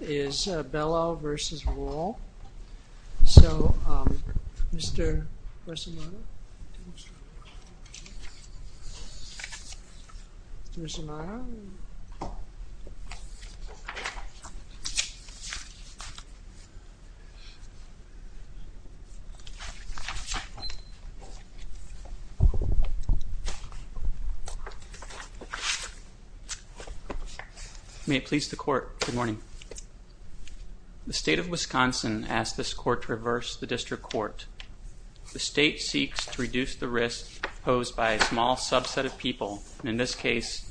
is Belleau v. Wall. So, um, Mr. Bresolano? Mr. Bresolano? May it please the court, good morning. The state of Wisconsin asked this court to reverse the district court. The state seeks to reduce the risk posed by a small subset of people, in this case,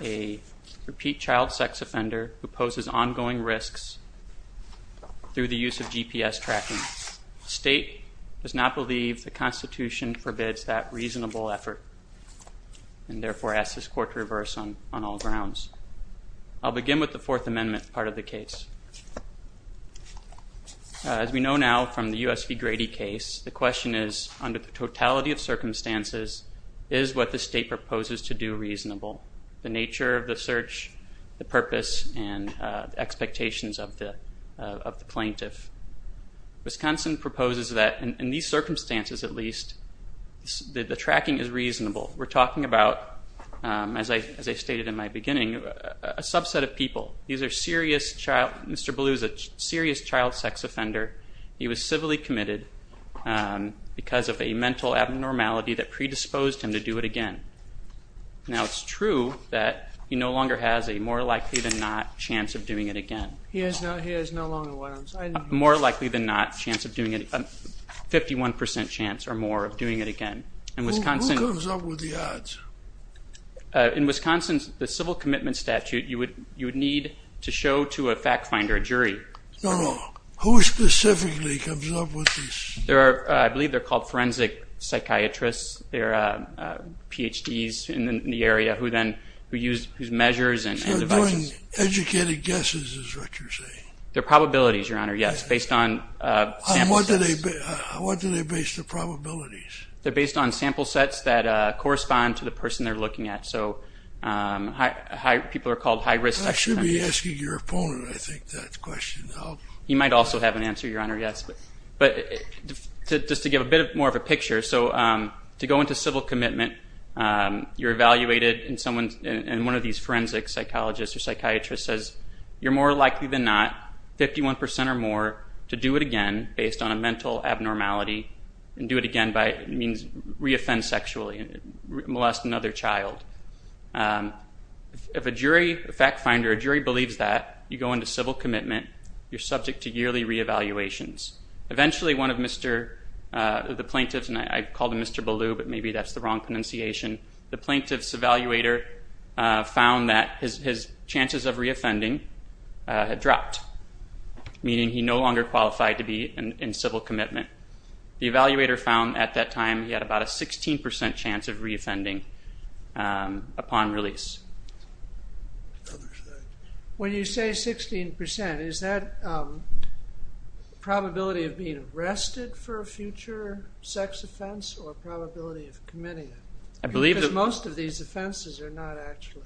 a repeat child sex offender who poses ongoing risks through the use of GPS tracking. The state does not believe the Constitution forbids that reasonable effort, and therefore asks this court to reverse on all grounds. I'll begin with the Fourth Amendment part of the case. As we know now from the U.S. v. Grady case, the question is, under the totality of circumstances, is what the state proposes to do reasonable? The nature of the search, the purpose, and expectations of the plaintiff. Wisconsin proposes that, in these circumstances at least, the tracking is reasonable. We're talking about, as I stated in my beginning, a subset of people. Mr. Belleau is a serious child sex offender. He was civilly committed because of a mental abnormality that predisposed him to do it again. Now, it's true that he no longer has a more likely than not chance of doing it again. He has no longer what I'm saying. A more likely than not chance of doing it, a 51% chance or more of doing it again. Who comes up with the odds? In Wisconsin, the civil commitment statute, you would need to show to a fact finder, a jury. No, no, who specifically comes up with these? I believe they're called forensic psychiatrists. They're PhDs in the area who use these measures and devices. Educated guesses is what you're saying. They're probabilities, Your Honor, yes. Based on sample sets. What do they base their probabilities? They're based on sample sets that correspond to the person they're looking at. So, people are called high risk sex offenders. I should be asking your opponent, I think, that question. He might also have an answer, Your Honor, yes. But, just to give a bit more of a picture. So, to go into civil commitment, you're evaluated, and one of these forensic psychologists or psychiatrists says, you're more likely than not, 51% or more, to do it again based on a mental abnormality, and do it again means reoffend sexually, molest another child. If a jury, a fact finder, a jury believes that, you go into civil commitment, you're subject to yearly reevaluations. Eventually, one of the plaintiffs, and I called him Mr. Ballew, but maybe that's the wrong pronunciation, the plaintiff's evaluator found that his chances of reoffending had dropped, meaning he no longer qualified to be in civil commitment. The evaluator found at that time he had about a 16% chance of reoffending upon release. When you say 16%, is that probability of being arrested for a future sex offense, or probability of committing it? Because most of these offenses are not actually,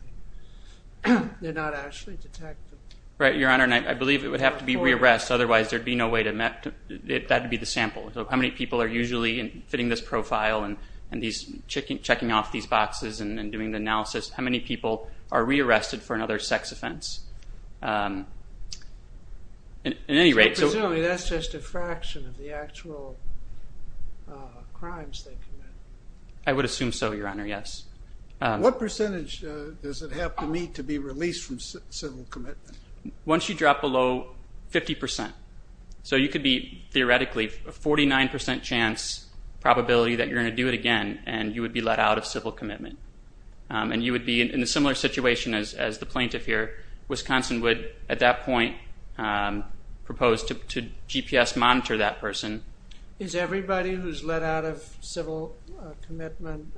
they're not actually detectable. Right, Your Honor, and I believe it would have to be re-arrest, otherwise there would be no way to, that would be the sample. So, how many people are usually fitting this profile, and checking off these boxes, and doing the analysis, how many people are re-arrested for another sex offense? Presumably that's just a fraction of the actual crimes they commit. I would assume so, Your Honor, yes. What percentage does it have to meet to be released from civil commitment? Once you drop below 50%, so you could be, theoretically, a 49% chance, probability that you're going to do it again, and you would be let out of civil commitment. And you would be in a similar situation as the plaintiff here. Wisconsin would, at that point, propose to GPS monitor that person. Is everybody who's let out of civil commitment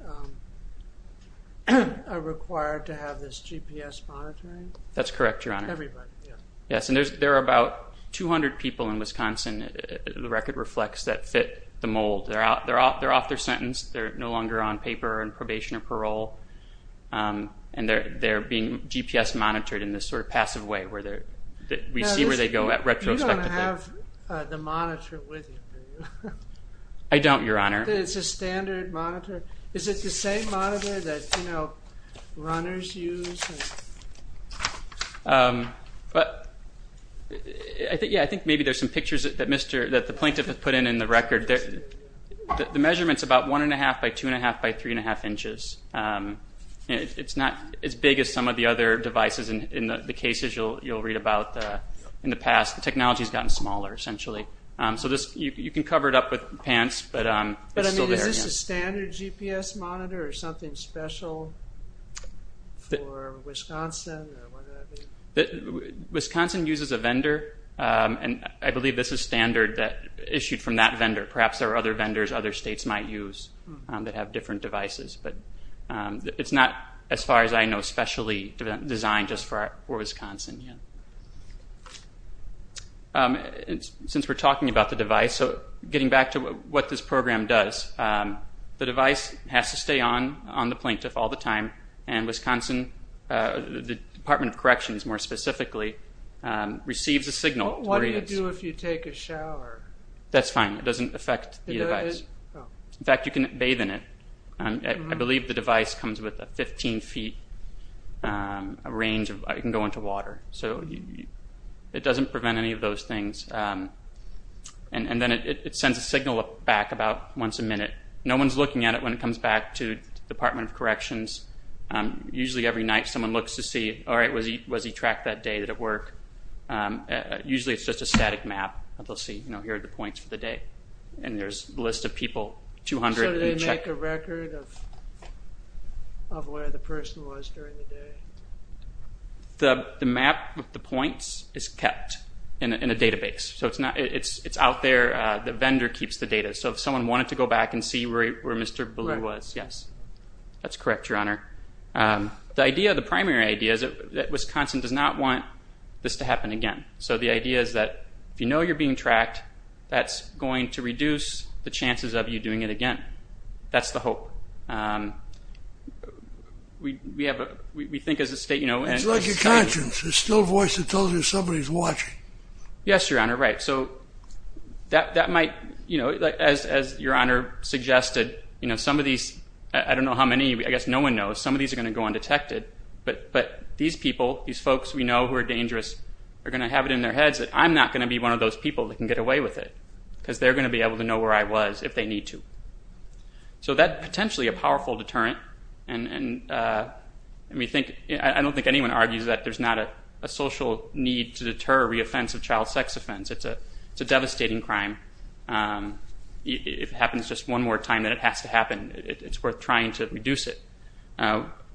required to have this GPS monitoring? That's correct, Your Honor. Everybody, yeah. Yes, and there are about 200 people in Wisconsin, the record reflects, that fit the mold. They're off their sentence. They're no longer on paper, on probation, or parole. And they're being GPS monitored in this sort of passive way, where we see where they go retrospectively. You don't have the monitor with you, do you? I don't, Your Honor. It's a standard monitor. Is it the same monitor that runners use? Yeah, I think maybe there's some pictures that the plaintiff has put in in the record. The measurement's about 1 1⁄2 by 2 1⁄2 by 3 1⁄2 inches. It's not as big as some of the other devices in the cases you'll read about in the past. The technology's gotten smaller, essentially. So you can cover it up with pants, but it's still there. But, I mean, is this a standard GPS monitor, or something special for Wisconsin, or what does that mean? Wisconsin uses a vendor, and I believe this is standard, issued from that vendor. Perhaps there are other vendors other states might use that have different devices. But it's not, as far as I know, specially designed just for Wisconsin yet. Since we're talking about the device, getting back to what this program does, the device has to stay on the plaintiff all the time, and Wisconsin, the Department of Corrections more specifically, receives a signal. What do you do if you take a shower? That's fine. It doesn't affect the device. In fact, you can bathe in it. I believe the device comes with a 15-feet range. It can go into water. So it doesn't prevent any of those things. And then it sends a signal back about once a minute. No one's looking at it when it comes back to the Department of Corrections. Usually every night someone looks to see, all right, was he tracked that day? Did it work? Usually it's just a static map. They'll see here are the points for the day. And there's a list of people, 200. So do they make a record of where the person was during the day? The map of the points is kept in a database. So it's out there. The vendor keeps the data. So if someone wanted to go back and see where Mr. Ballou was, yes. That's correct, Your Honor. The primary idea is that Wisconsin does not want this to happen again. So the idea is that if you know you're being tracked, that's going to reduce the chances of you doing it again. That's the hope. It's like your conscience. There's still a voice that tells you somebody's watching. Yes, Your Honor, right. As Your Honor suggested, some of these, I don't know how many, I guess no one knows, some of these are going to go undetected. But these people, these folks we know who are dangerous, are going to have it in their heads that I'm not going to be one of those people that can get away with it because they're going to be able to know where I was if they need to. So that's potentially a powerful deterrent. I don't think anyone argues that there's not a social need to deter a reoffensive child sex offense. It's a devastating crime. If it happens just one more time, then it has to happen. It's worth trying to reduce it.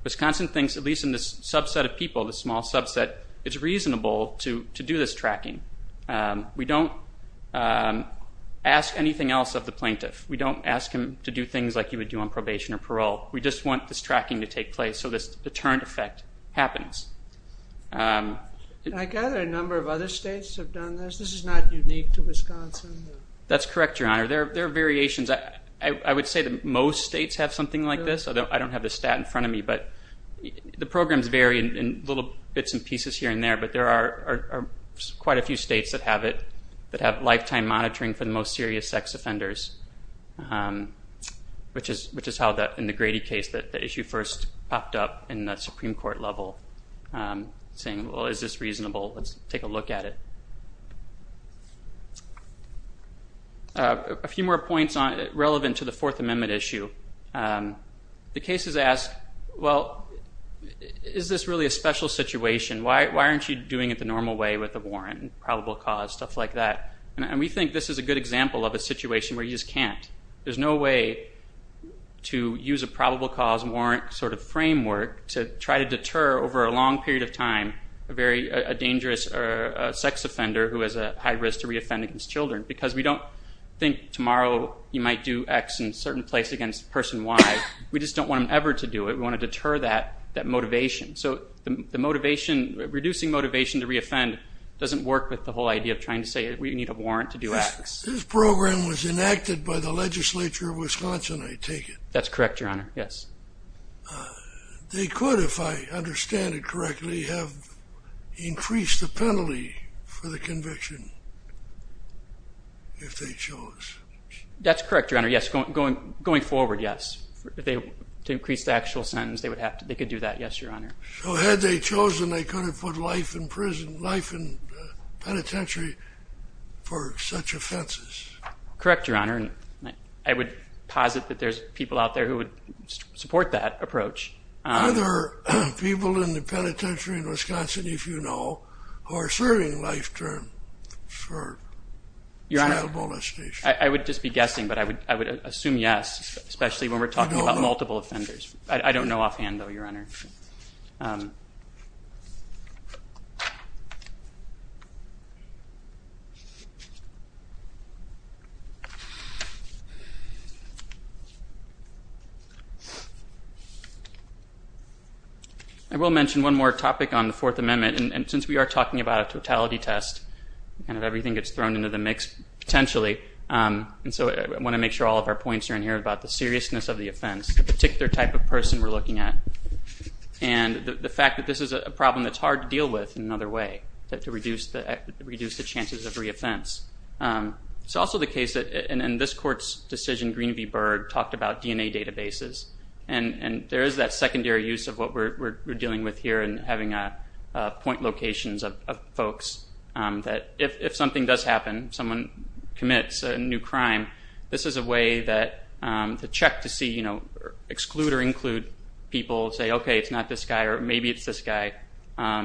Wisconsin thinks, at least in this subset of people, this small subset, it's reasonable to do this tracking. We don't ask anything else of the plaintiff. We don't ask him to do things like you would do on probation or parole. We just want this tracking to take place so this deterrent effect happens. I gather a number of other states have done this. This is not unique to Wisconsin. That's correct, Your Honor. There are variations. I would say that most states have something like this, although I don't have the stat in front of me. The programs vary in little bits and pieces here and there, but there are quite a few states that have it, that have lifetime monitoring for the most serious sex offenders, which is how, in the Grady case, the issue first popped up in the Supreme Court level, saying, well, is this reasonable? Let's take a look at it. A few more points relevant to the Fourth Amendment issue. The case has asked, well, is this really a special situation? Why aren't you doing it the normal way with the warrant and probable cause, stuff like that? And we think this is a good example of a situation where you just can't. There's no way to use a probable cause warrant sort of framework to try to deter over a long period of time a dangerous sex offender who has a high risk to reoffend against children, because we don't think tomorrow you might do X in a certain place against a person Y. We just don't want them ever to do it. We want to deter that motivation. So the motivation, reducing motivation to reoffend, doesn't work with the whole idea of trying to say we need a warrant to do X. This program was enacted by the legislature of Wisconsin, I take it? That's correct, Your Honor, yes. They could, if I understand it correctly, have increased the penalty for the conviction if they chose. That's correct, Your Honor, yes. Going forward, yes. To increase the actual sentence, they could do that, yes, Your Honor. So had they chosen, they could have put life in prison, life in penitentiary for such offenses. Correct, Your Honor. I would posit that there's people out there who would support that approach. Are there people in the penitentiary in Wisconsin, if you know, who are serving life terms for child molestation? I would just be guessing, but I would assume yes, especially when we're talking about multiple offenders. I don't know offhand, though, Your Honor. I will mention one more topic on the Fourth Amendment, and since we are talking about a totality test, kind of everything gets thrown into the mix, potentially, and so I want to make sure all of our points are in here about the seriousness of the offense, the particular type of person we're looking at, and the fact that this is a problem that's hard to deal with in another way, to reduce the chances of reoffense. It's also the case that in this Court's decision, Greenaby Berg talked about DNA databases, and there is that secondary use of what we're dealing with here in having point locations of folks, that if something does happen, someone commits a new crime, this is a way to check to see, exclude or include people, say, okay, it's not this guy, or maybe it's this guy,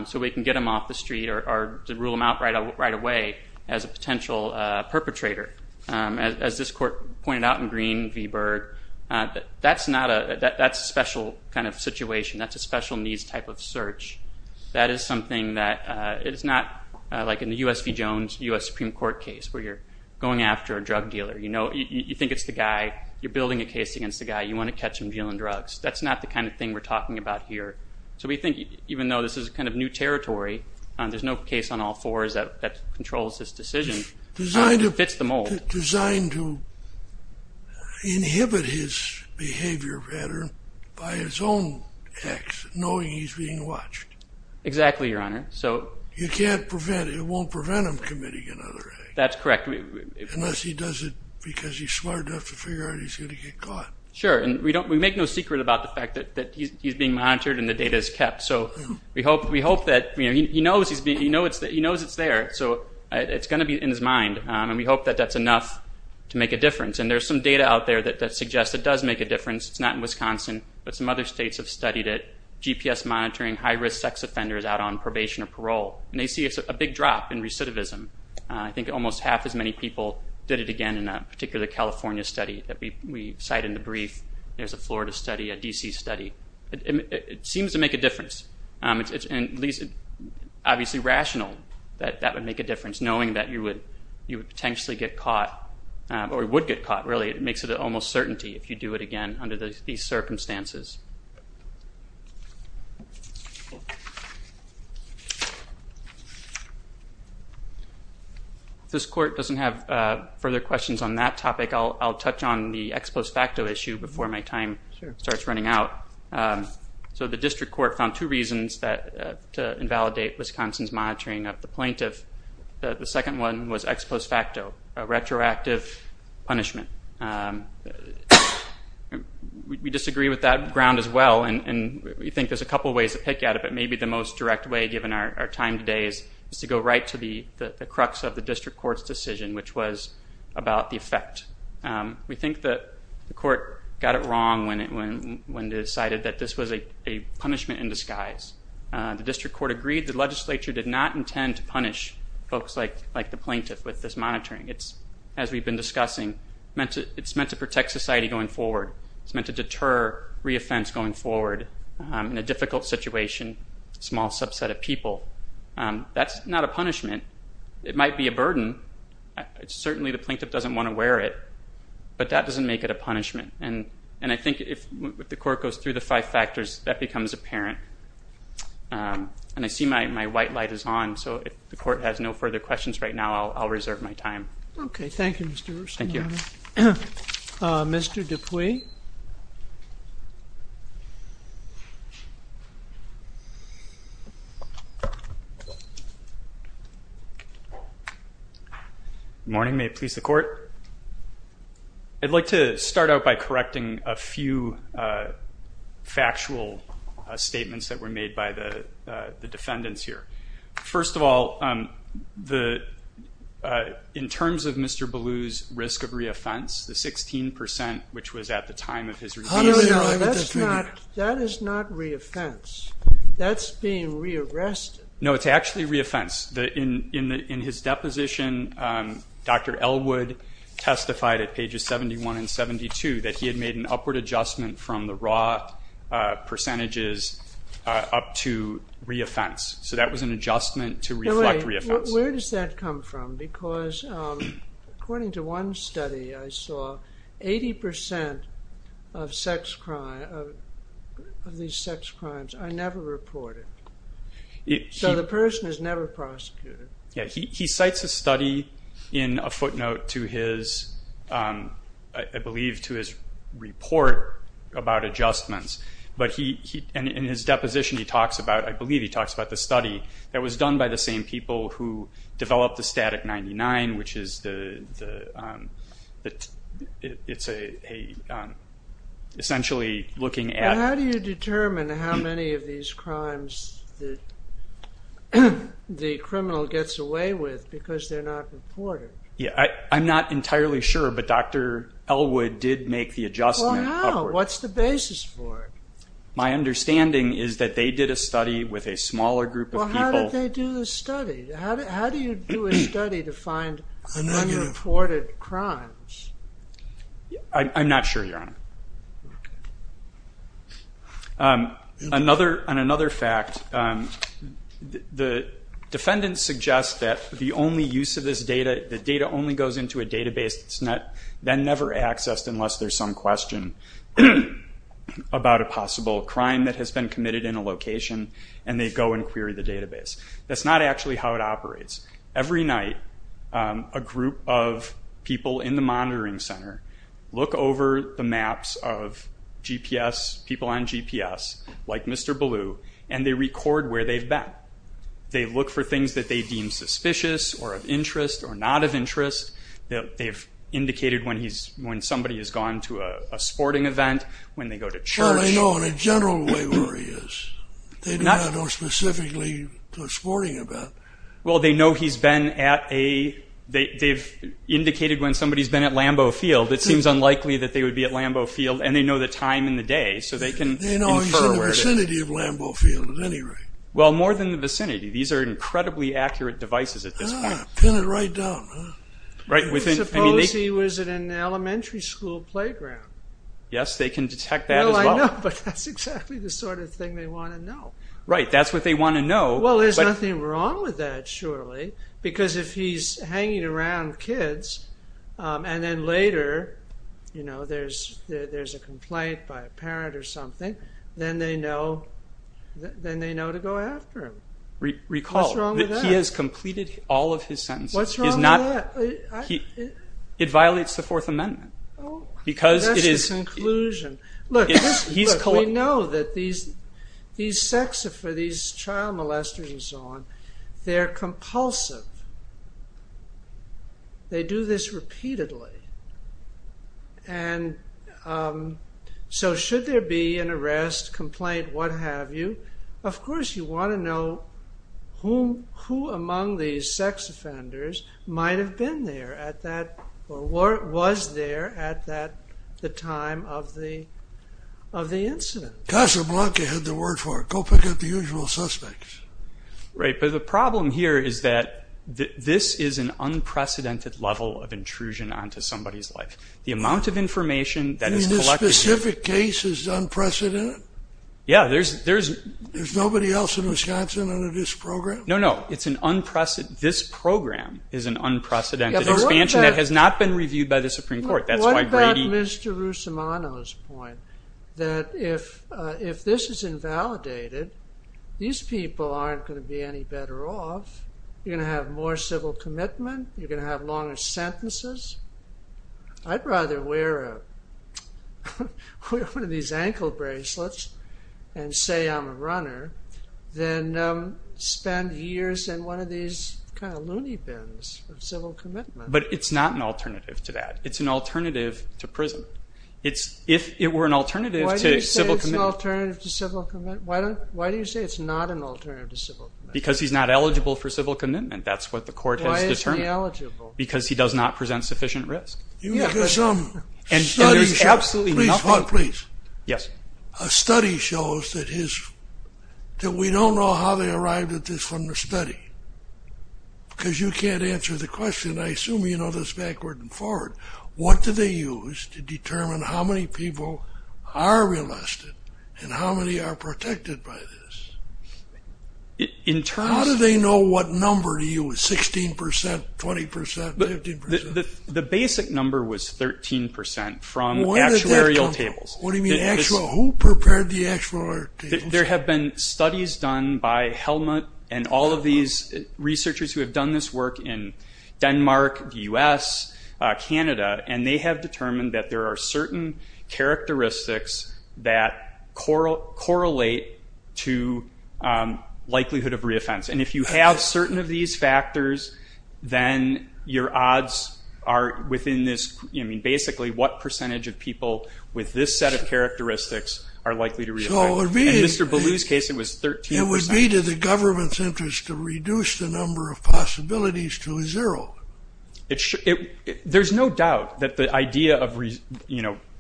so we can get them off the street or rule them out right away as a potential perpetrator. As this Court pointed out in Greenaby Berg, that's a special kind of situation. That's a special needs type of search. That is something that is not like in the U.S. v. Jones, U.S. Supreme Court case where you're going after a drug dealer. You think it's the guy. You're building a case against the guy. You want to catch him dealing drugs. That's not the kind of thing we're talking about here, so we think even though this is kind of new territory, there's no case on all fours that controls this decision. It fits the mold. Designed to inhibit his behavior pattern by his own acts, knowing he's being watched. Exactly, Your Honor. You can't prevent it. It won't prevent him committing another act. That's correct. Unless he does it because he's smart enough to figure out he's going to get caught. Sure, and we make no secret about the fact that he's being monitored and the data is kept, so we hope that he knows it's there, so it's going to be in his mind, and we hope that that's enough to make a difference, and there's some data out there that suggests it does make a difference. It's not in Wisconsin, but some other states have studied it. GPS monitoring high-risk sex offenders out on probation or parole, and they see a big drop in recidivism. I think almost half as many people did it again in a particular California study that we cite in the brief. There's a Florida study, a D.C. study. It seems to make a difference, and it's obviously rational that that would make a difference, knowing that you would potentially get caught or would get caught, really. It makes it almost certainty if you do it again under these circumstances. If this Court doesn't have further questions on that topic, I'll touch on the ex post facto issue before my time starts running out. The District Court found two reasons to invalidate Wisconsin's monitoring of the plaintiff. The second one was ex post facto, a retroactive punishment. We disagree with that ground as well, and we think there's a couple ways to pick at it, but maybe the most direct way, given our time today, is to go right to the crux of the District Court's decision, which was about the effect. We think the Court got it wrong when it decided that this was a punishment in disguise. The District Court agreed the legislature did not intend to punish folks like the plaintiff with this monitoring. As we've been discussing, it's meant to protect society going forward. It's meant to deter reoffense going forward in a difficult situation, a small subset of people. That's not a punishment. It might be a burden. Certainly the plaintiff doesn't want to wear it, but that doesn't make it a punishment. And I think if the Court goes through the five factors, that becomes apparent. And I see my white light is on, so if the Court has no further questions right now, I'll reserve my time. Okay, thank you, Mr. Rusanato. Thank you. Mr. Dupuis? Good morning. May it please the Court? I'd like to start out by correcting a few factual statements that were made by the defendants here. First of all, in terms of Mr. Ballou's risk of reoffense, the 16%, which was at the time of his release... No, no, that is not reoffense. That's being rearrested. No, it's actually reoffense. In his deposition, Dr. Elwood testified at pages 71 and 72 that he had made an upward adjustment from the raw percentages up to reoffense. So that was an adjustment to reflect reoffense. Wait, where does that come from? Because according to one study I saw, 80% of these sex crimes are never reported. So the person is never prosecuted. Yeah, he cites a study in a footnote to his, I believe, to his report about adjustments, and in his deposition he talks about, I believe, he talks about the study that was done by the same people who developed the Static 99, which is essentially looking at... the criminal gets away with because they're not reported. Yeah, I'm not entirely sure, but Dr. Elwood did make the adjustment upward. Well, how? What's the basis for it? My understanding is that they did a study with a smaller group of people. Well, how did they do the study? How do you do a study to find unreported crimes? I'm not sure, Your Honor. Okay. On another fact, the defendants suggest that the only use of this data, the data only goes into a database that's then never accessed unless there's some question about a possible crime that has been committed in a location, and they go and query the database. That's not actually how it operates. Every night a group of people in the monitoring center look over the maps of GPS, people on GPS, like Mr. Ballou, and they record where they've been. They look for things that they deem suspicious or of interest or not of interest. They've indicated when somebody has gone to a sporting event, when they go to church. Well, they know in a general way where he is. They do not know specifically what he's sporting about. Well, they know he's been at a... They've indicated when somebody's been at Lambeau Field. It seems unlikely that they would be at Lambeau Field, and they know the time and the day, so they can infer... They know he's in the vicinity of Lambeau Field at any rate. Well, more than the vicinity. These are incredibly accurate devices at this point. Pin it right down. Suppose he was at an elementary school playground. Yes, they can detect that as well. Well, I know, but that's exactly the sort of thing they want to know. Right, that's what they want to know. Well, there's nothing wrong with that, surely, because if he's hanging around kids, and then later, you know, there's a complaint by a parent or something, then they know to go after him. Recall that he has completed all of his sentences. What's wrong with that? It violates the Fourth Amendment. That's the conclusion. Look, we know that these sexophobes, these child molesters and so on, they're compulsive. They do this repeatedly. And so should there be an arrest, complaint, what have you, of course you want to know who among these sex offenders might have been there at that... or was there at the time of the incident. Casablanca had the word for it. Go pick up the usual suspects. Right, but the problem here is that this is an unprecedented level of intrusion onto somebody's life. The amount of information that is collected... You mean this specific case is unprecedented? Yeah, there's... There's nobody else in Wisconsin under this program? No, no, it's an unprecedented... This program is an unprecedented expansion that has not been reviewed by the Supreme Court. That's why Brady... What about Mr. Russomano's point, that if this is invalidated, these people aren't going to be any better off. You're going to have more civil commitment. You're going to have longer sentences. I'd rather wear one of these ankle bracelets and say I'm a runner than spend years in one of these kind of loony bins of civil commitment. But it's not an alternative to that. It's an alternative to prison. If it were an alternative to civil commitment... Why do you say it's an alternative to civil commitment? Why do you say it's not an alternative to civil commitment? Because he's not eligible for civil commitment. That's what the court has determined. Why is he eligible? Because he does not present sufficient risk. And there's absolutely nothing... Please, Juan, please. Yes. A study shows that we don't know how they arrived at this from the study because you can't answer the question. I assume you know this backward and forward. What do they use to determine how many people are arrested and how many are protected by this? How do they know what number to use, 16%, 20%, 15%? The basic number was 13% from actuarial tables. What do you mean actuarial? Who prepared the actuarial tables? There have been studies done by Helmut and all of these researchers who have done this work in Denmark, the U.S., Canada, and they have determined that there are certain characteristics that correlate to likelihood of reoffense. And if you have certain of these factors, then your odds are within this. Basically, what percentage of people with this set of characteristics are likely to reoffend? In Mr. Ballou's case, it was 13%. It would be to the government's interest to reduce the number of possibilities to zero. There's no doubt that the idea of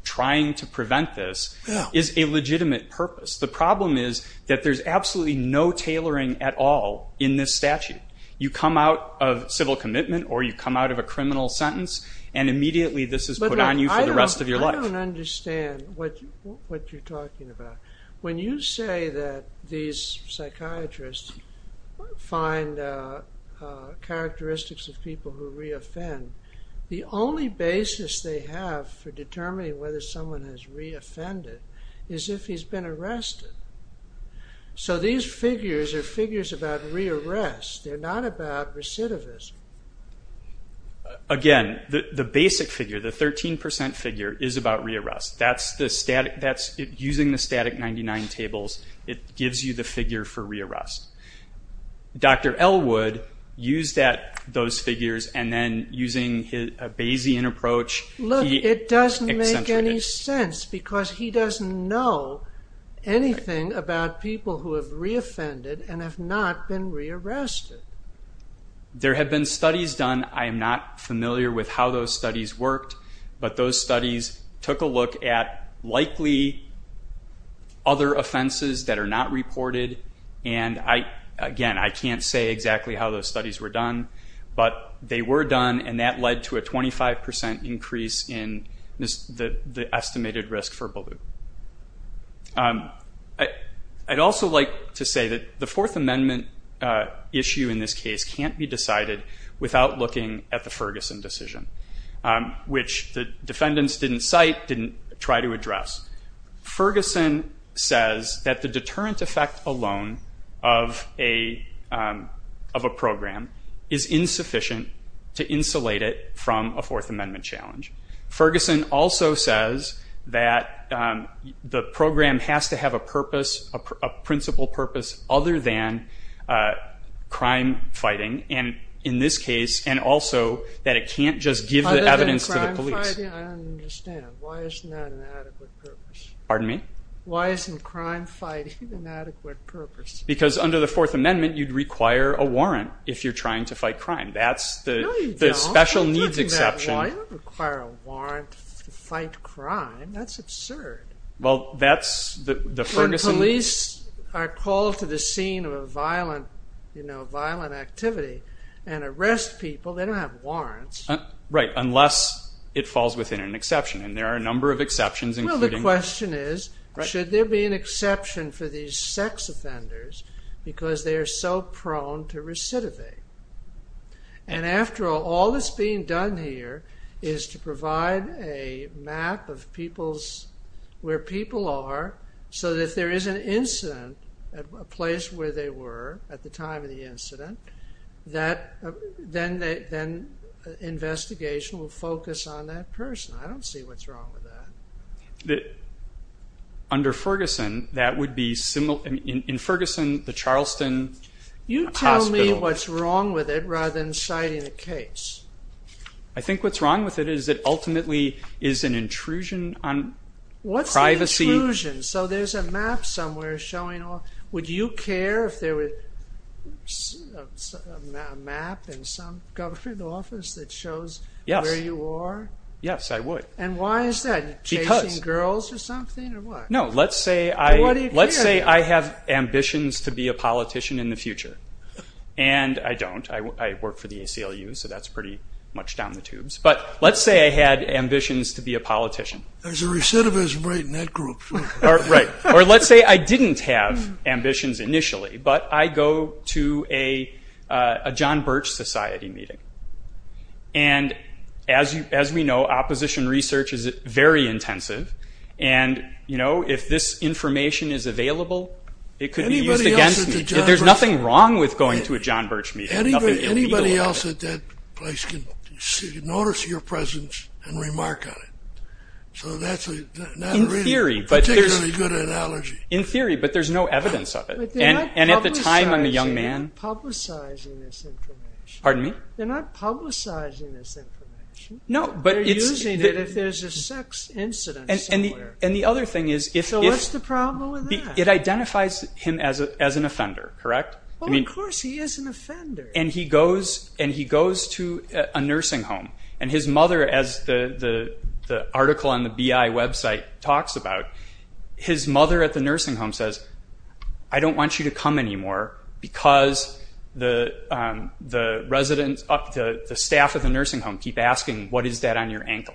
trying to prevent this is a legitimate purpose. The problem is that there's absolutely no tailoring at all in this statute. You come out of civil commitment or you come out of a criminal sentence, and immediately this is put on you for the rest of your life. I don't understand what you're talking about. When you say that these psychiatrists find characteristics of people who reoffend, the only basis they have for determining whether someone has reoffended is if he's been arrested. So these figures are figures about re-arrest. They're not about recidivism. Again, the basic figure, the 13% figure, is about re-arrest. Using the static 99 tables, it gives you the figure for re-arrest. Dr. Ellwood used those figures, and then using a Bayesian approach, he accentuated it. Look, it doesn't make any sense because he doesn't know anything about people who have reoffended and have not been re-arrested. There have been studies done. I am not familiar with how those studies worked, but those studies took a look at likely other offenses that are not reported. And, again, I can't say exactly how those studies were done, but they were done, and that led to a 25% increase in the estimated risk for belief. I'd also like to say that the Fourth Amendment issue in this case can't be decided without looking at the Ferguson decision, which the defendants didn't cite, didn't try to address. Ferguson says that the deterrent effect alone of a program is insufficient to insulate it from a Fourth Amendment challenge. Ferguson also says that the program has to have a principle purpose other than crime fighting, and in this case, and also that it can't just give the evidence to the police. Other than crime fighting? I don't understand. Why isn't that an adequate purpose? Pardon me? Why isn't crime fighting an adequate purpose? Because under the Fourth Amendment, you'd require a warrant if you're trying to fight crime. No, you don't. That's the special needs exception. Why do you require a warrant to fight crime? That's absurd. Well, that's the Ferguson... When police are called to the scene of a violent activity and arrest people, they don't have warrants. Right, unless it falls within an exception, and there are a number of exceptions, including... Well, the question is, should there be an exception for these sex offenders because they are so prone to recidivate? And after all, all that's being done here is to provide a map of where people are so that if there is an incident, a place where they were at the time of the incident, then investigation will focus on that person. I don't see what's wrong with that. Under Ferguson, that would be similar... In Ferguson, the Charleston Hospital... You tell me what's wrong with it rather than citing a case. I think what's wrong with it is that ultimately it's an intrusion on privacy. What's an intrusion? So there's a map somewhere showing... Would you care if there was a map in some government office that shows where you are? Yes, I would. And why is that? Because... Are you chasing girls or something, or what? No, let's say I have ambitions to be a politician in the future. And I don't. I work for the ACLU, so that's pretty much down the tubes. But let's say I had ambitions to be a politician. There's a recidivist right in that group. Right. Or let's say I didn't have ambitions initially, but I go to a John Birch Society meeting. And as we know, opposition research is very intensive. And, you know, if this information is available, it could be used against me. There's nothing wrong with going to a John Birch meeting. Anybody else at that place can notice your presence and remark on it. So that's not a particularly good analogy. In theory, but there's no evidence of it. And at the time, I'm a young man. But they're not publicizing this information. Pardon me? They're not publicizing this information. No, but it's... They're using it if there's a sex incident somewhere. And the other thing is... So what's the problem with that? It identifies him as an offender, correct? Well, of course he is an offender. And he goes to a nursing home. And his mother, as the article on the BI website talks about, his mother at the nursing home says, I don't want you to come anymore because the residents, the staff at the nursing home keep asking, what is that on your ankle?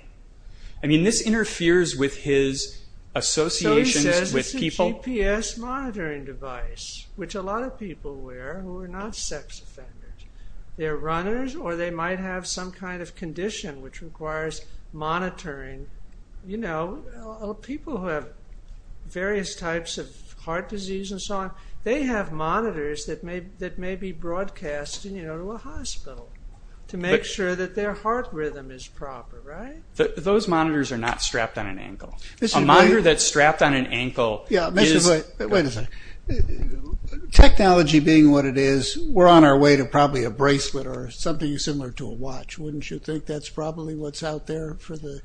I mean, this interferes with his associations with people. So he says it's a GPS monitoring device, which a lot of people wear who are not sex offenders. They're runners, or they might have some kind of condition which requires monitoring. You know, people who have various types of heart disease and so on, they have monitors that may be broadcast to a hospital to make sure that their heart rhythm is proper, right? Those monitors are not strapped on an ankle. A monitor that's strapped on an ankle is... Yeah, Mr. Boyd, wait a second. Technology being what it is, we're on our way to probably a bracelet or something similar to a watch. Wouldn't you think that's probably what's out there for the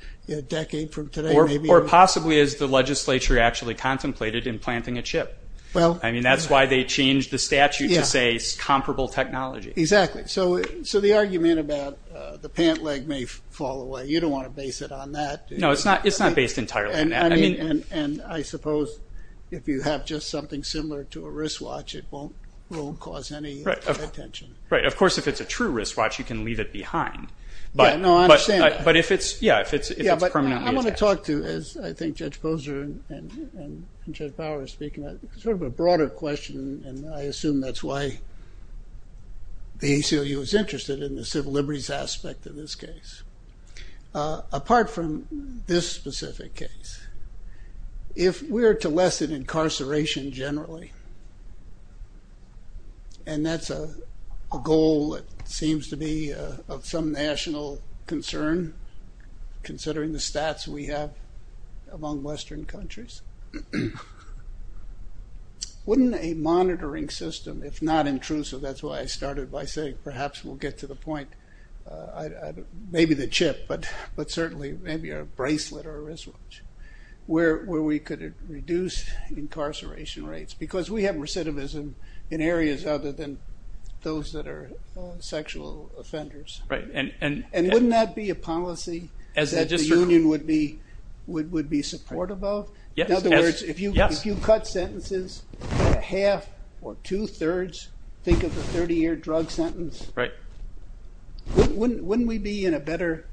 decade from today? Or possibly as the legislature actually contemplated in planting a chip. I mean, that's why they changed the statute to say comparable technology. Exactly. So the argument about the pant leg may fall away, you don't want to base it on that. No, it's not based entirely on that. And I suppose if you have just something similar to a wristwatch, it won't cause any attention. Right. Of course, if it's a true wristwatch, you can leave it behind. Yeah, no, I understand that. But if it's permanently attached. Yeah, but I want to talk to, as I think Judge Posner and Judge Bauer are speaking, sort of a broader question, and I assume that's why the ACLU is interested in the civil liberties aspect of this case. Apart from this specific case, if we're to lessen incarceration generally, and that's a goal that seems to be of some national concern, considering the stats we have among Western countries, wouldn't a monitoring system, if not intrusive, that's why I started by saying perhaps we'll get to the point, maybe the chip, but certainly maybe a bracelet or a wristwatch, where we could reduce incarceration rates. Because we have recidivism in areas other than those that are sexual offenders. And wouldn't that be a policy that the union would be supportive of? In other words, if you cut sentences by a half or two-thirds, think of a 30-year drug sentence, wouldn't we be in a better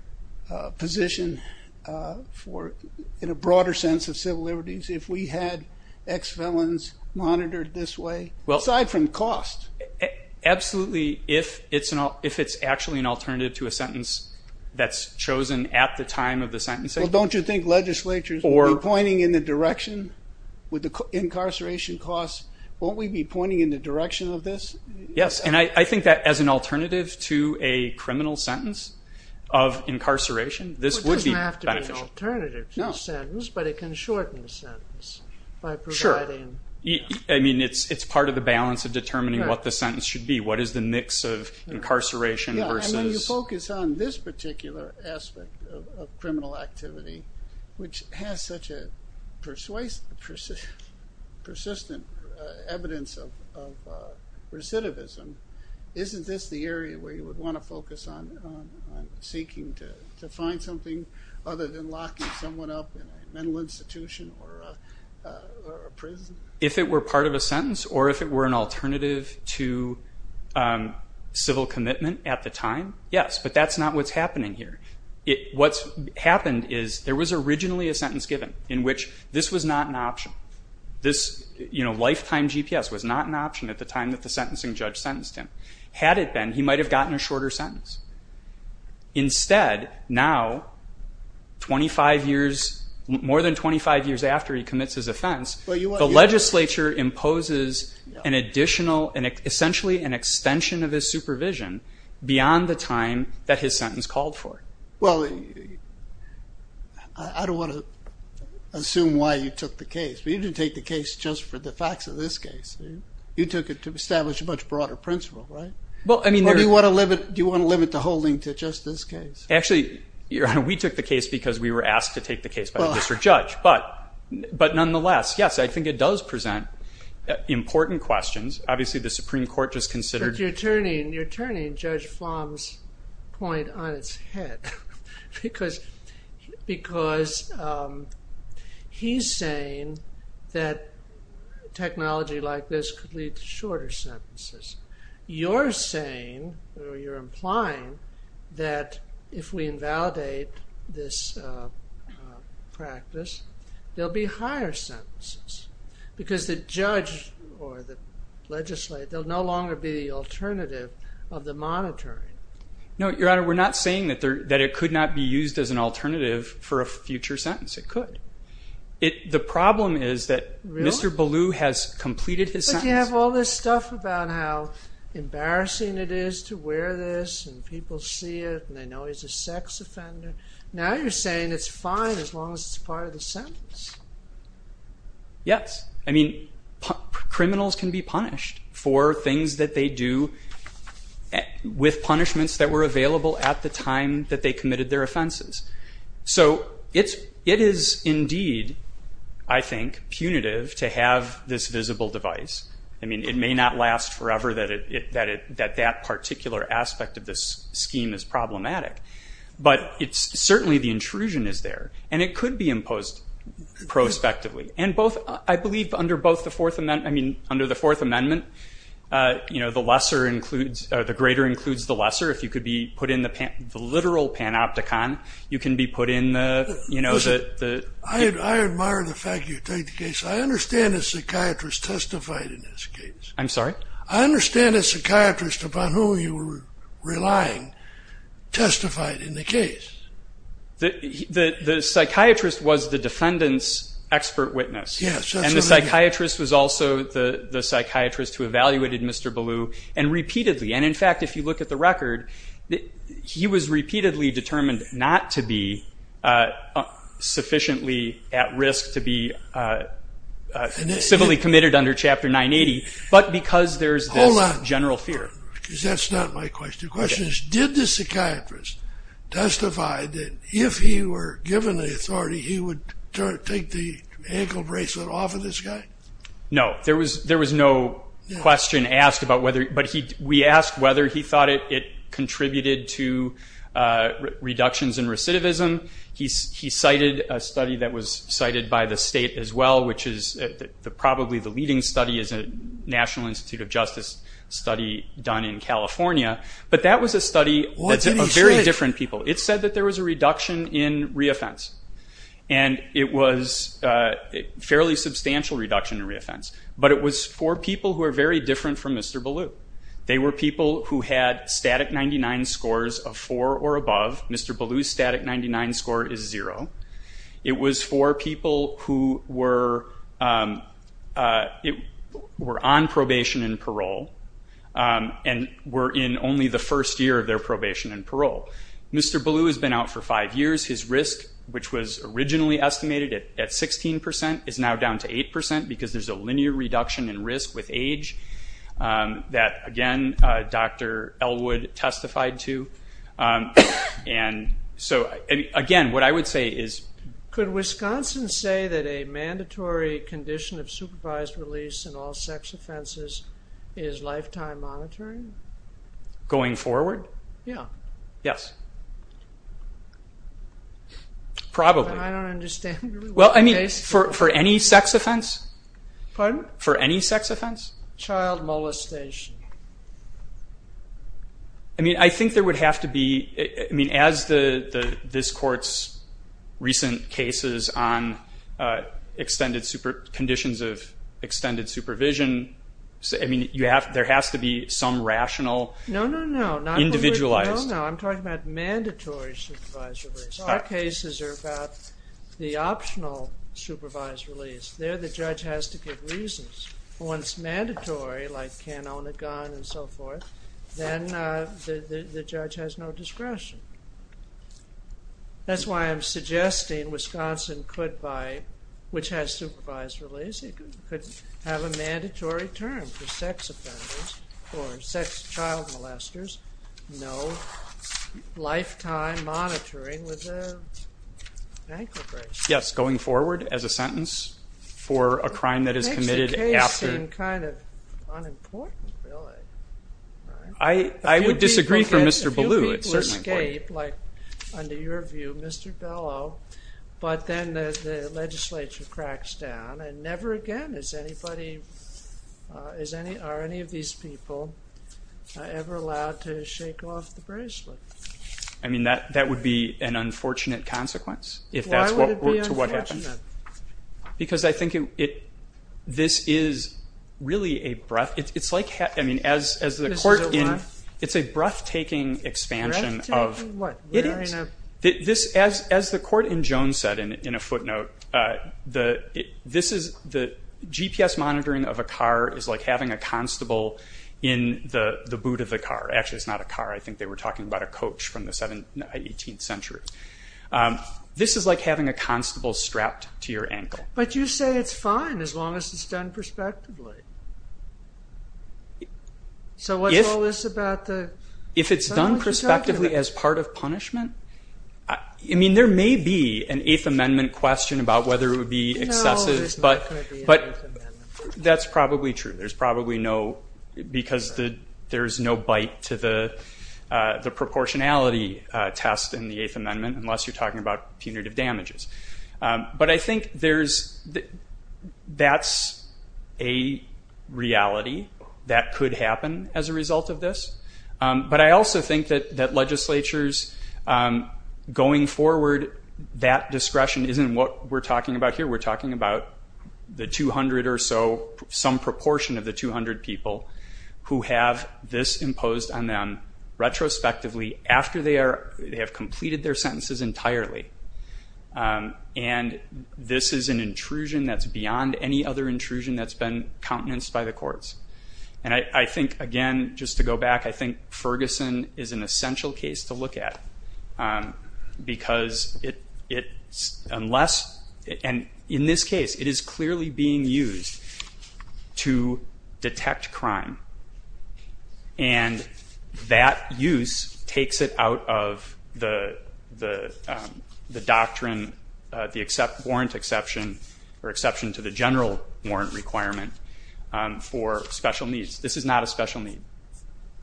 position in a broader sense of civil liberties if we had ex-felons monitored this way? Aside from cost. Absolutely, if it's actually an alternative to a sentence that's chosen at the time of the sentence. Well, don't you think legislatures would be pointing in the direction, with the incarceration costs, won't we be pointing in the direction of this? Yes, and I think that as an alternative to a criminal sentence of incarceration, this would be beneficial. It doesn't have to be an alternative to a sentence, but it can shorten the sentence by providing... Sure. I mean, it's part of the balance of determining what the sentence should be. What is the mix of incarceration versus... Yeah, and when you focus on this particular aspect of criminal activity, which has such a persistent evidence of recidivism, isn't this the area where you would want to focus on seeking to find something other than locking someone up in a mental institution or a prison? If it were part of a sentence or if it were an alternative to civil commitment at the time, yes, but that's not what's happening here. What's happened is there was originally a sentence given in which this was not an option. This lifetime GPS was not an option at the time that the sentencing judge sentenced him. Had it been, he might have gotten a shorter sentence. Instead, now, 25 years... more than 25 years after he commits his offense, the legislature imposes an additional... essentially an extension of his supervision beyond the time that his sentence called for. Well, I don't want to assume why you took the case but you didn't take the case just for the facts of this case. You took it to establish a much broader principle, right? Or do you want to limit the holding to just this case? Actually, we took the case because we were asked to take the case by the district judge. But nonetheless, yes, I think it does present important questions. Obviously, the Supreme Court just considered... But you're turning Judge Flom's point on its head because he's saying that technology like this could lead to shorter sentences. You're saying, or you're implying, that if we invalidate this practice, there'll be higher sentences because the judge or the legislator... there'll no longer be the alternative of the monitoring. No, Your Honor, we're not saying that it could not be used as an alternative for a future sentence. It could. The problem is that Mr. Ballou has completed his sentence. But you have all this stuff about how embarrassing it is to wear this and people see it and they know he's a sex offender. Now you're saying it's fine as long as it's part of the sentence. Yes. I mean, criminals can be punished for things that they do with punishments that were available at the time that they committed their offenses. So it is indeed, I think, punitive to have this visible device. I mean, it may not last forever that that particular aspect of this scheme is problematic, but certainly the intrusion is there and it could be imposed prospectively. And I believe under the Fourth Amendment, the greater includes the lesser. If you could be put in the literal panopticon, you can be put in the... I admire the fact you take the case. I understand a psychiatrist testified in this case. I'm sorry? The psychiatrist was the defendant's expert witness. And the psychiatrist was also the psychiatrist who evaluated Mr. Ballou and repeatedly. And in fact, if you look at the record, he was repeatedly determined not to be sufficiently at risk to be civilly committed under Chapter 980, but because there's this general fear. Hold on, because that's not my question. The question is, did the psychiatrist testify that if he were given the authority, he would take the ankle bracelet off of this guy? No. There was no question asked about whether... But we asked whether he thought it contributed to reductions in recidivism. He cited a study that was cited by the state as well, which is probably the leading study as a National Institute of Justice study done in California. But that was a study of very different people. It said that there was a reduction in reoffense. And it was a fairly substantial reduction in reoffense. But it was for people who are very different from Mr. Ballou. They were people who had static 99 scores of 4 or above. Mr. Ballou's static 99 score is 0. It was for people who were on probation and parole and were in only the first year of their probation and parole. Mr. Ballou has been out for five years. His risk, which was originally estimated at 16%, is now down to 8% because there's a linear reduction in risk with age that, again, Dr. Elwood testified to. And so, again, what I would say is... Could Wisconsin say that a mandatory condition of supervised release in all sex offenses is lifetime monitoring? Going forward? Yeah. Yes. I don't understand. Well, I mean, for any sex offense? Pardon? For any sex offense? Child molestation. I mean, I think there would have to be... I mean, as this Court's recent cases on conditions of extended supervision, I mean, there has to be some rational... No, no, no. ...individualized... No, no. I'm talking about mandatory supervised release. Our cases are about the optional supervised release. There the judge has to give reasons. Once mandatory, like can't own a gun and so forth, then the judge has no discretion. That's why I'm suggesting Wisconsin could buy, which has supervised release, it could have a mandatory term for sex offenders or sex child molesters, no lifetime monitoring with their ankle brace. Yes, going forward as a sentence for a crime that is committed after... I would disagree for Mr. Bellew. A few people escape, like under your view, Mr. Bellow, but then the legislature cracks down, and never again is anybody, are any of these people ever allowed to shake off the bracelet. I mean, that would be an unfortunate consequence if that's what happened. Why would it be unfortunate? Because I think this is really a breath... This is a what? It's a breathtaking expansion of... Breathtaking what? As the court in Jones said in a footnote, the GPS monitoring of a car is like having a constable in the boot of the car. Actually, it's not a car. I think they were talking about a coach from the 18th century. This is like having a constable strapped to your ankle. But you say it's fine as long as it's done prospectively. So what's all this about the... If it's done prospectively as part of punishment? I mean, there may be an Eighth Amendment question about whether it would be excessive, but that's probably true. There's probably no... because there's no bite to the proportionality test in the Eighth Amendment, unless you're talking about punitive damages. But I think there's... That's a reality that could happen as a result of this. But I also think that legislatures going forward, that discretion isn't what we're talking about here. We're talking about the 200 or so, some proportion of the 200 people who have this imposed on them retrospectively after they have completed their sentences entirely. And this is an intrusion that's beyond any other intrusion that's been countenanced by the courts. And I think, again, just to go back, I think Ferguson is an essential case to look at, because unless... And in this case, it is clearly being used to detect crime. And that use takes it out of the doctrine, the warrant exception or exception to the general warrant requirement for special needs. This is not a special need.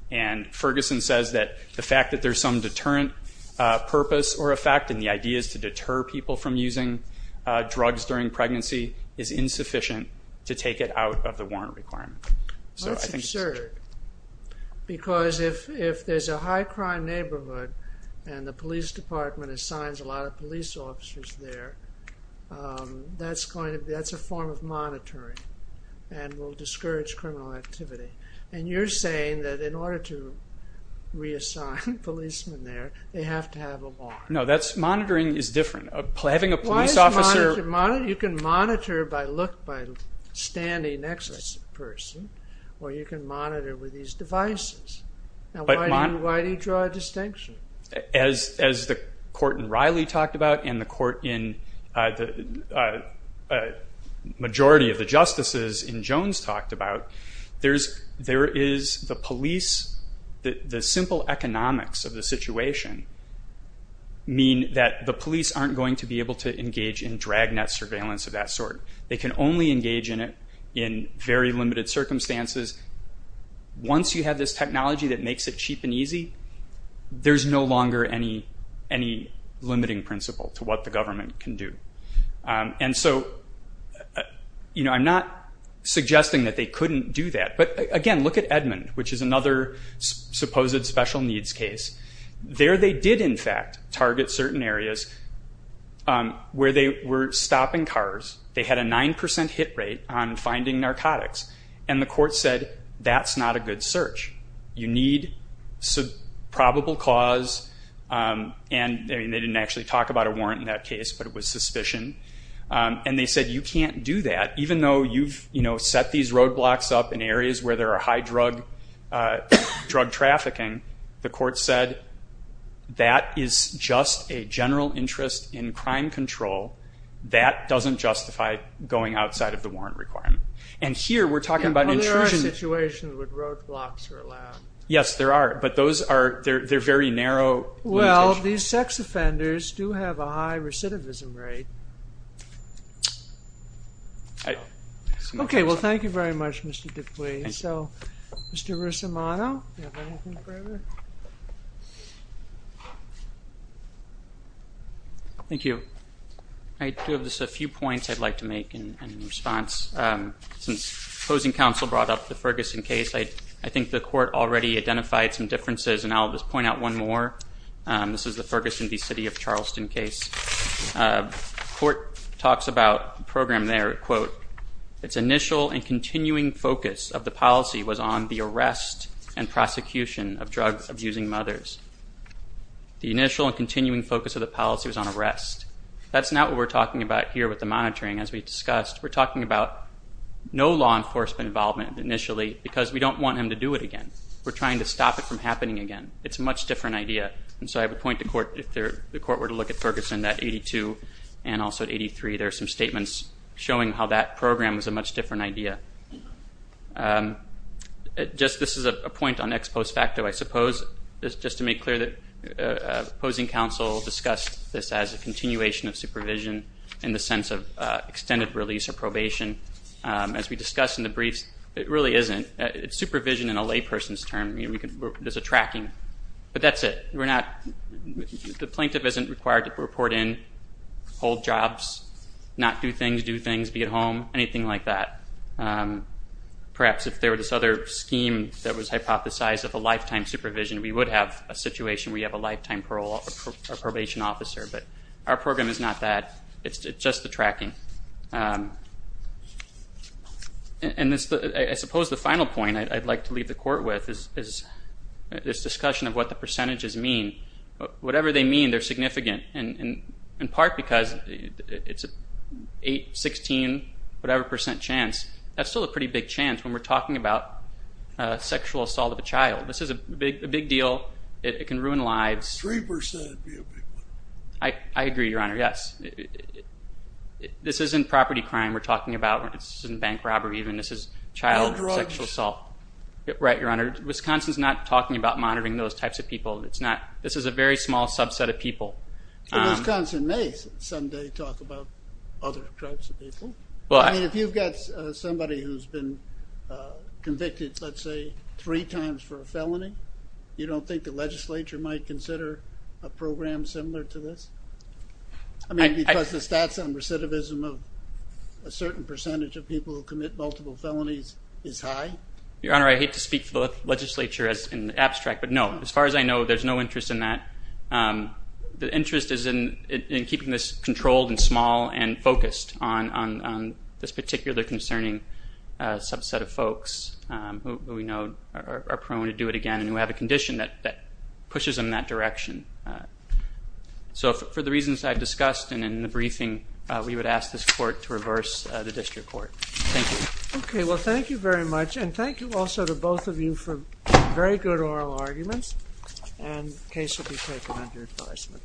And Ferguson says that the fact that there's some deterrent purpose or effect and the idea is to deter people from using drugs during pregnancy is insufficient to take it out of the warrant requirement. That's absurd. Because if there's a high crime neighborhood and the police department assigns a lot of police officers there, that's a form of monitoring and will discourage criminal activity. And you're saying that in order to reassign policemen there, they have to have a warrant. No, monitoring is different. Having a police officer... You can monitor by look by standing next to the person, or you can monitor with these devices. Now, why do you draw a distinction? As the court in Riley talked about and the court in the majority of the justices in Jones talked about, there is the police... The simple economics of the situation mean that the police aren't going to be able to engage in dragnet surveillance of that sort. They can only engage in it in very limited circumstances. Once you have this technology that makes it cheap and easy, there's no longer any limiting principle to what the government can do. And so I'm not suggesting that they couldn't do that. But, again, look at Edmond, which is another supposed special needs case. There they did, in fact, target certain areas where they were stopping cars. They had a 9% hit rate on finding narcotics. And the court said, that's not a good search. You need probable cause. And they didn't actually talk about a warrant in that case, but it was suspicion. And they said, you can't do that. Even though you've set these roadblocks up in areas where there are high drug trafficking, the court said, that is just a general interest in crime control. That doesn't justify going outside of the warrant requirement. And here we're talking about intrusion. Well, there are situations where roadblocks are allowed. Yes, there are. But they're very narrow. Well, these sex offenders do have a high recidivism rate. Okay, well, thank you very much, Mr. Dupuis. Mr. Russomano, do you have anything further? Thank you. I do have just a few points I'd like to make in response. Since opposing counsel brought up the Ferguson case, I think the court already identified some differences, and I'll just point out one more. This is the Ferguson v. City of Charleston case. The court talks about the program there, quote, Its initial and continuing focus of the policy was on the arrest and prosecution of drug-abusing mothers. The initial and continuing focus of the policy was on arrest. That's not what we're talking about here with the monitoring, as we discussed. We're talking about no law enforcement involvement initially because we don't want him to do it again. We're trying to stop it from happening again. It's a much different idea. And so I would point to the court, if the court were to look at Ferguson, at 82 and also at 83, there are some statements showing how that program was a much different idea. This is a point on ex post facto, I suppose, just to make clear that opposing counsel discussed this as a continuation of supervision in the sense of extended release or probation. As we discussed in the briefs, it really isn't. It's supervision in a layperson's term. There's a tracking. But that's it. The plaintiff isn't required to report in, hold jobs, not do things, do things, be at home, anything like that. Perhaps if there were this other scheme that was hypothesized of a lifetime supervision, we would have a situation where you have a lifetime probation officer, but our program is not that. It's just the tracking. I suppose the final point I'd like to leave the court with is this discussion of what the percentages mean. Whatever they mean, they're significant, in part because it's an 8%, 16%, whatever percent chance. That's still a pretty big chance when we're talking about sexual assault of a child. This is a big deal. It can ruin lives. Three percent would be a big one. I agree, Your Honor. Yes. This isn't property crime we're talking about. This isn't bank robbery even. This is child sexual assault. No drugs. Right, Your Honor. Wisconsin's not talking about monitoring those types of people. This is a very small subset of people. Wisconsin may someday talk about other types of people. If you've got somebody who's been convicted, let's say, three times for a felony, you don't think the legislature might consider a program similar to this? Because the stats on recidivism of a certain percentage of people who commit multiple felonies is high? Your Honor, I hate to speak for the legislature in the abstract, but no. As far as I know, there's no interest in that. The interest is in keeping this controlled and small and focused on this particular concerning subset of folks who we know are prone to do it again and who have a condition that pushes them in that direction. So for the reasons I've discussed and in the briefing, we would ask this court to reverse the district court. Thank you. Okay. Well, thank you very much. And thank you also to both of you for very good oral arguments. And the case will be taken under advisement.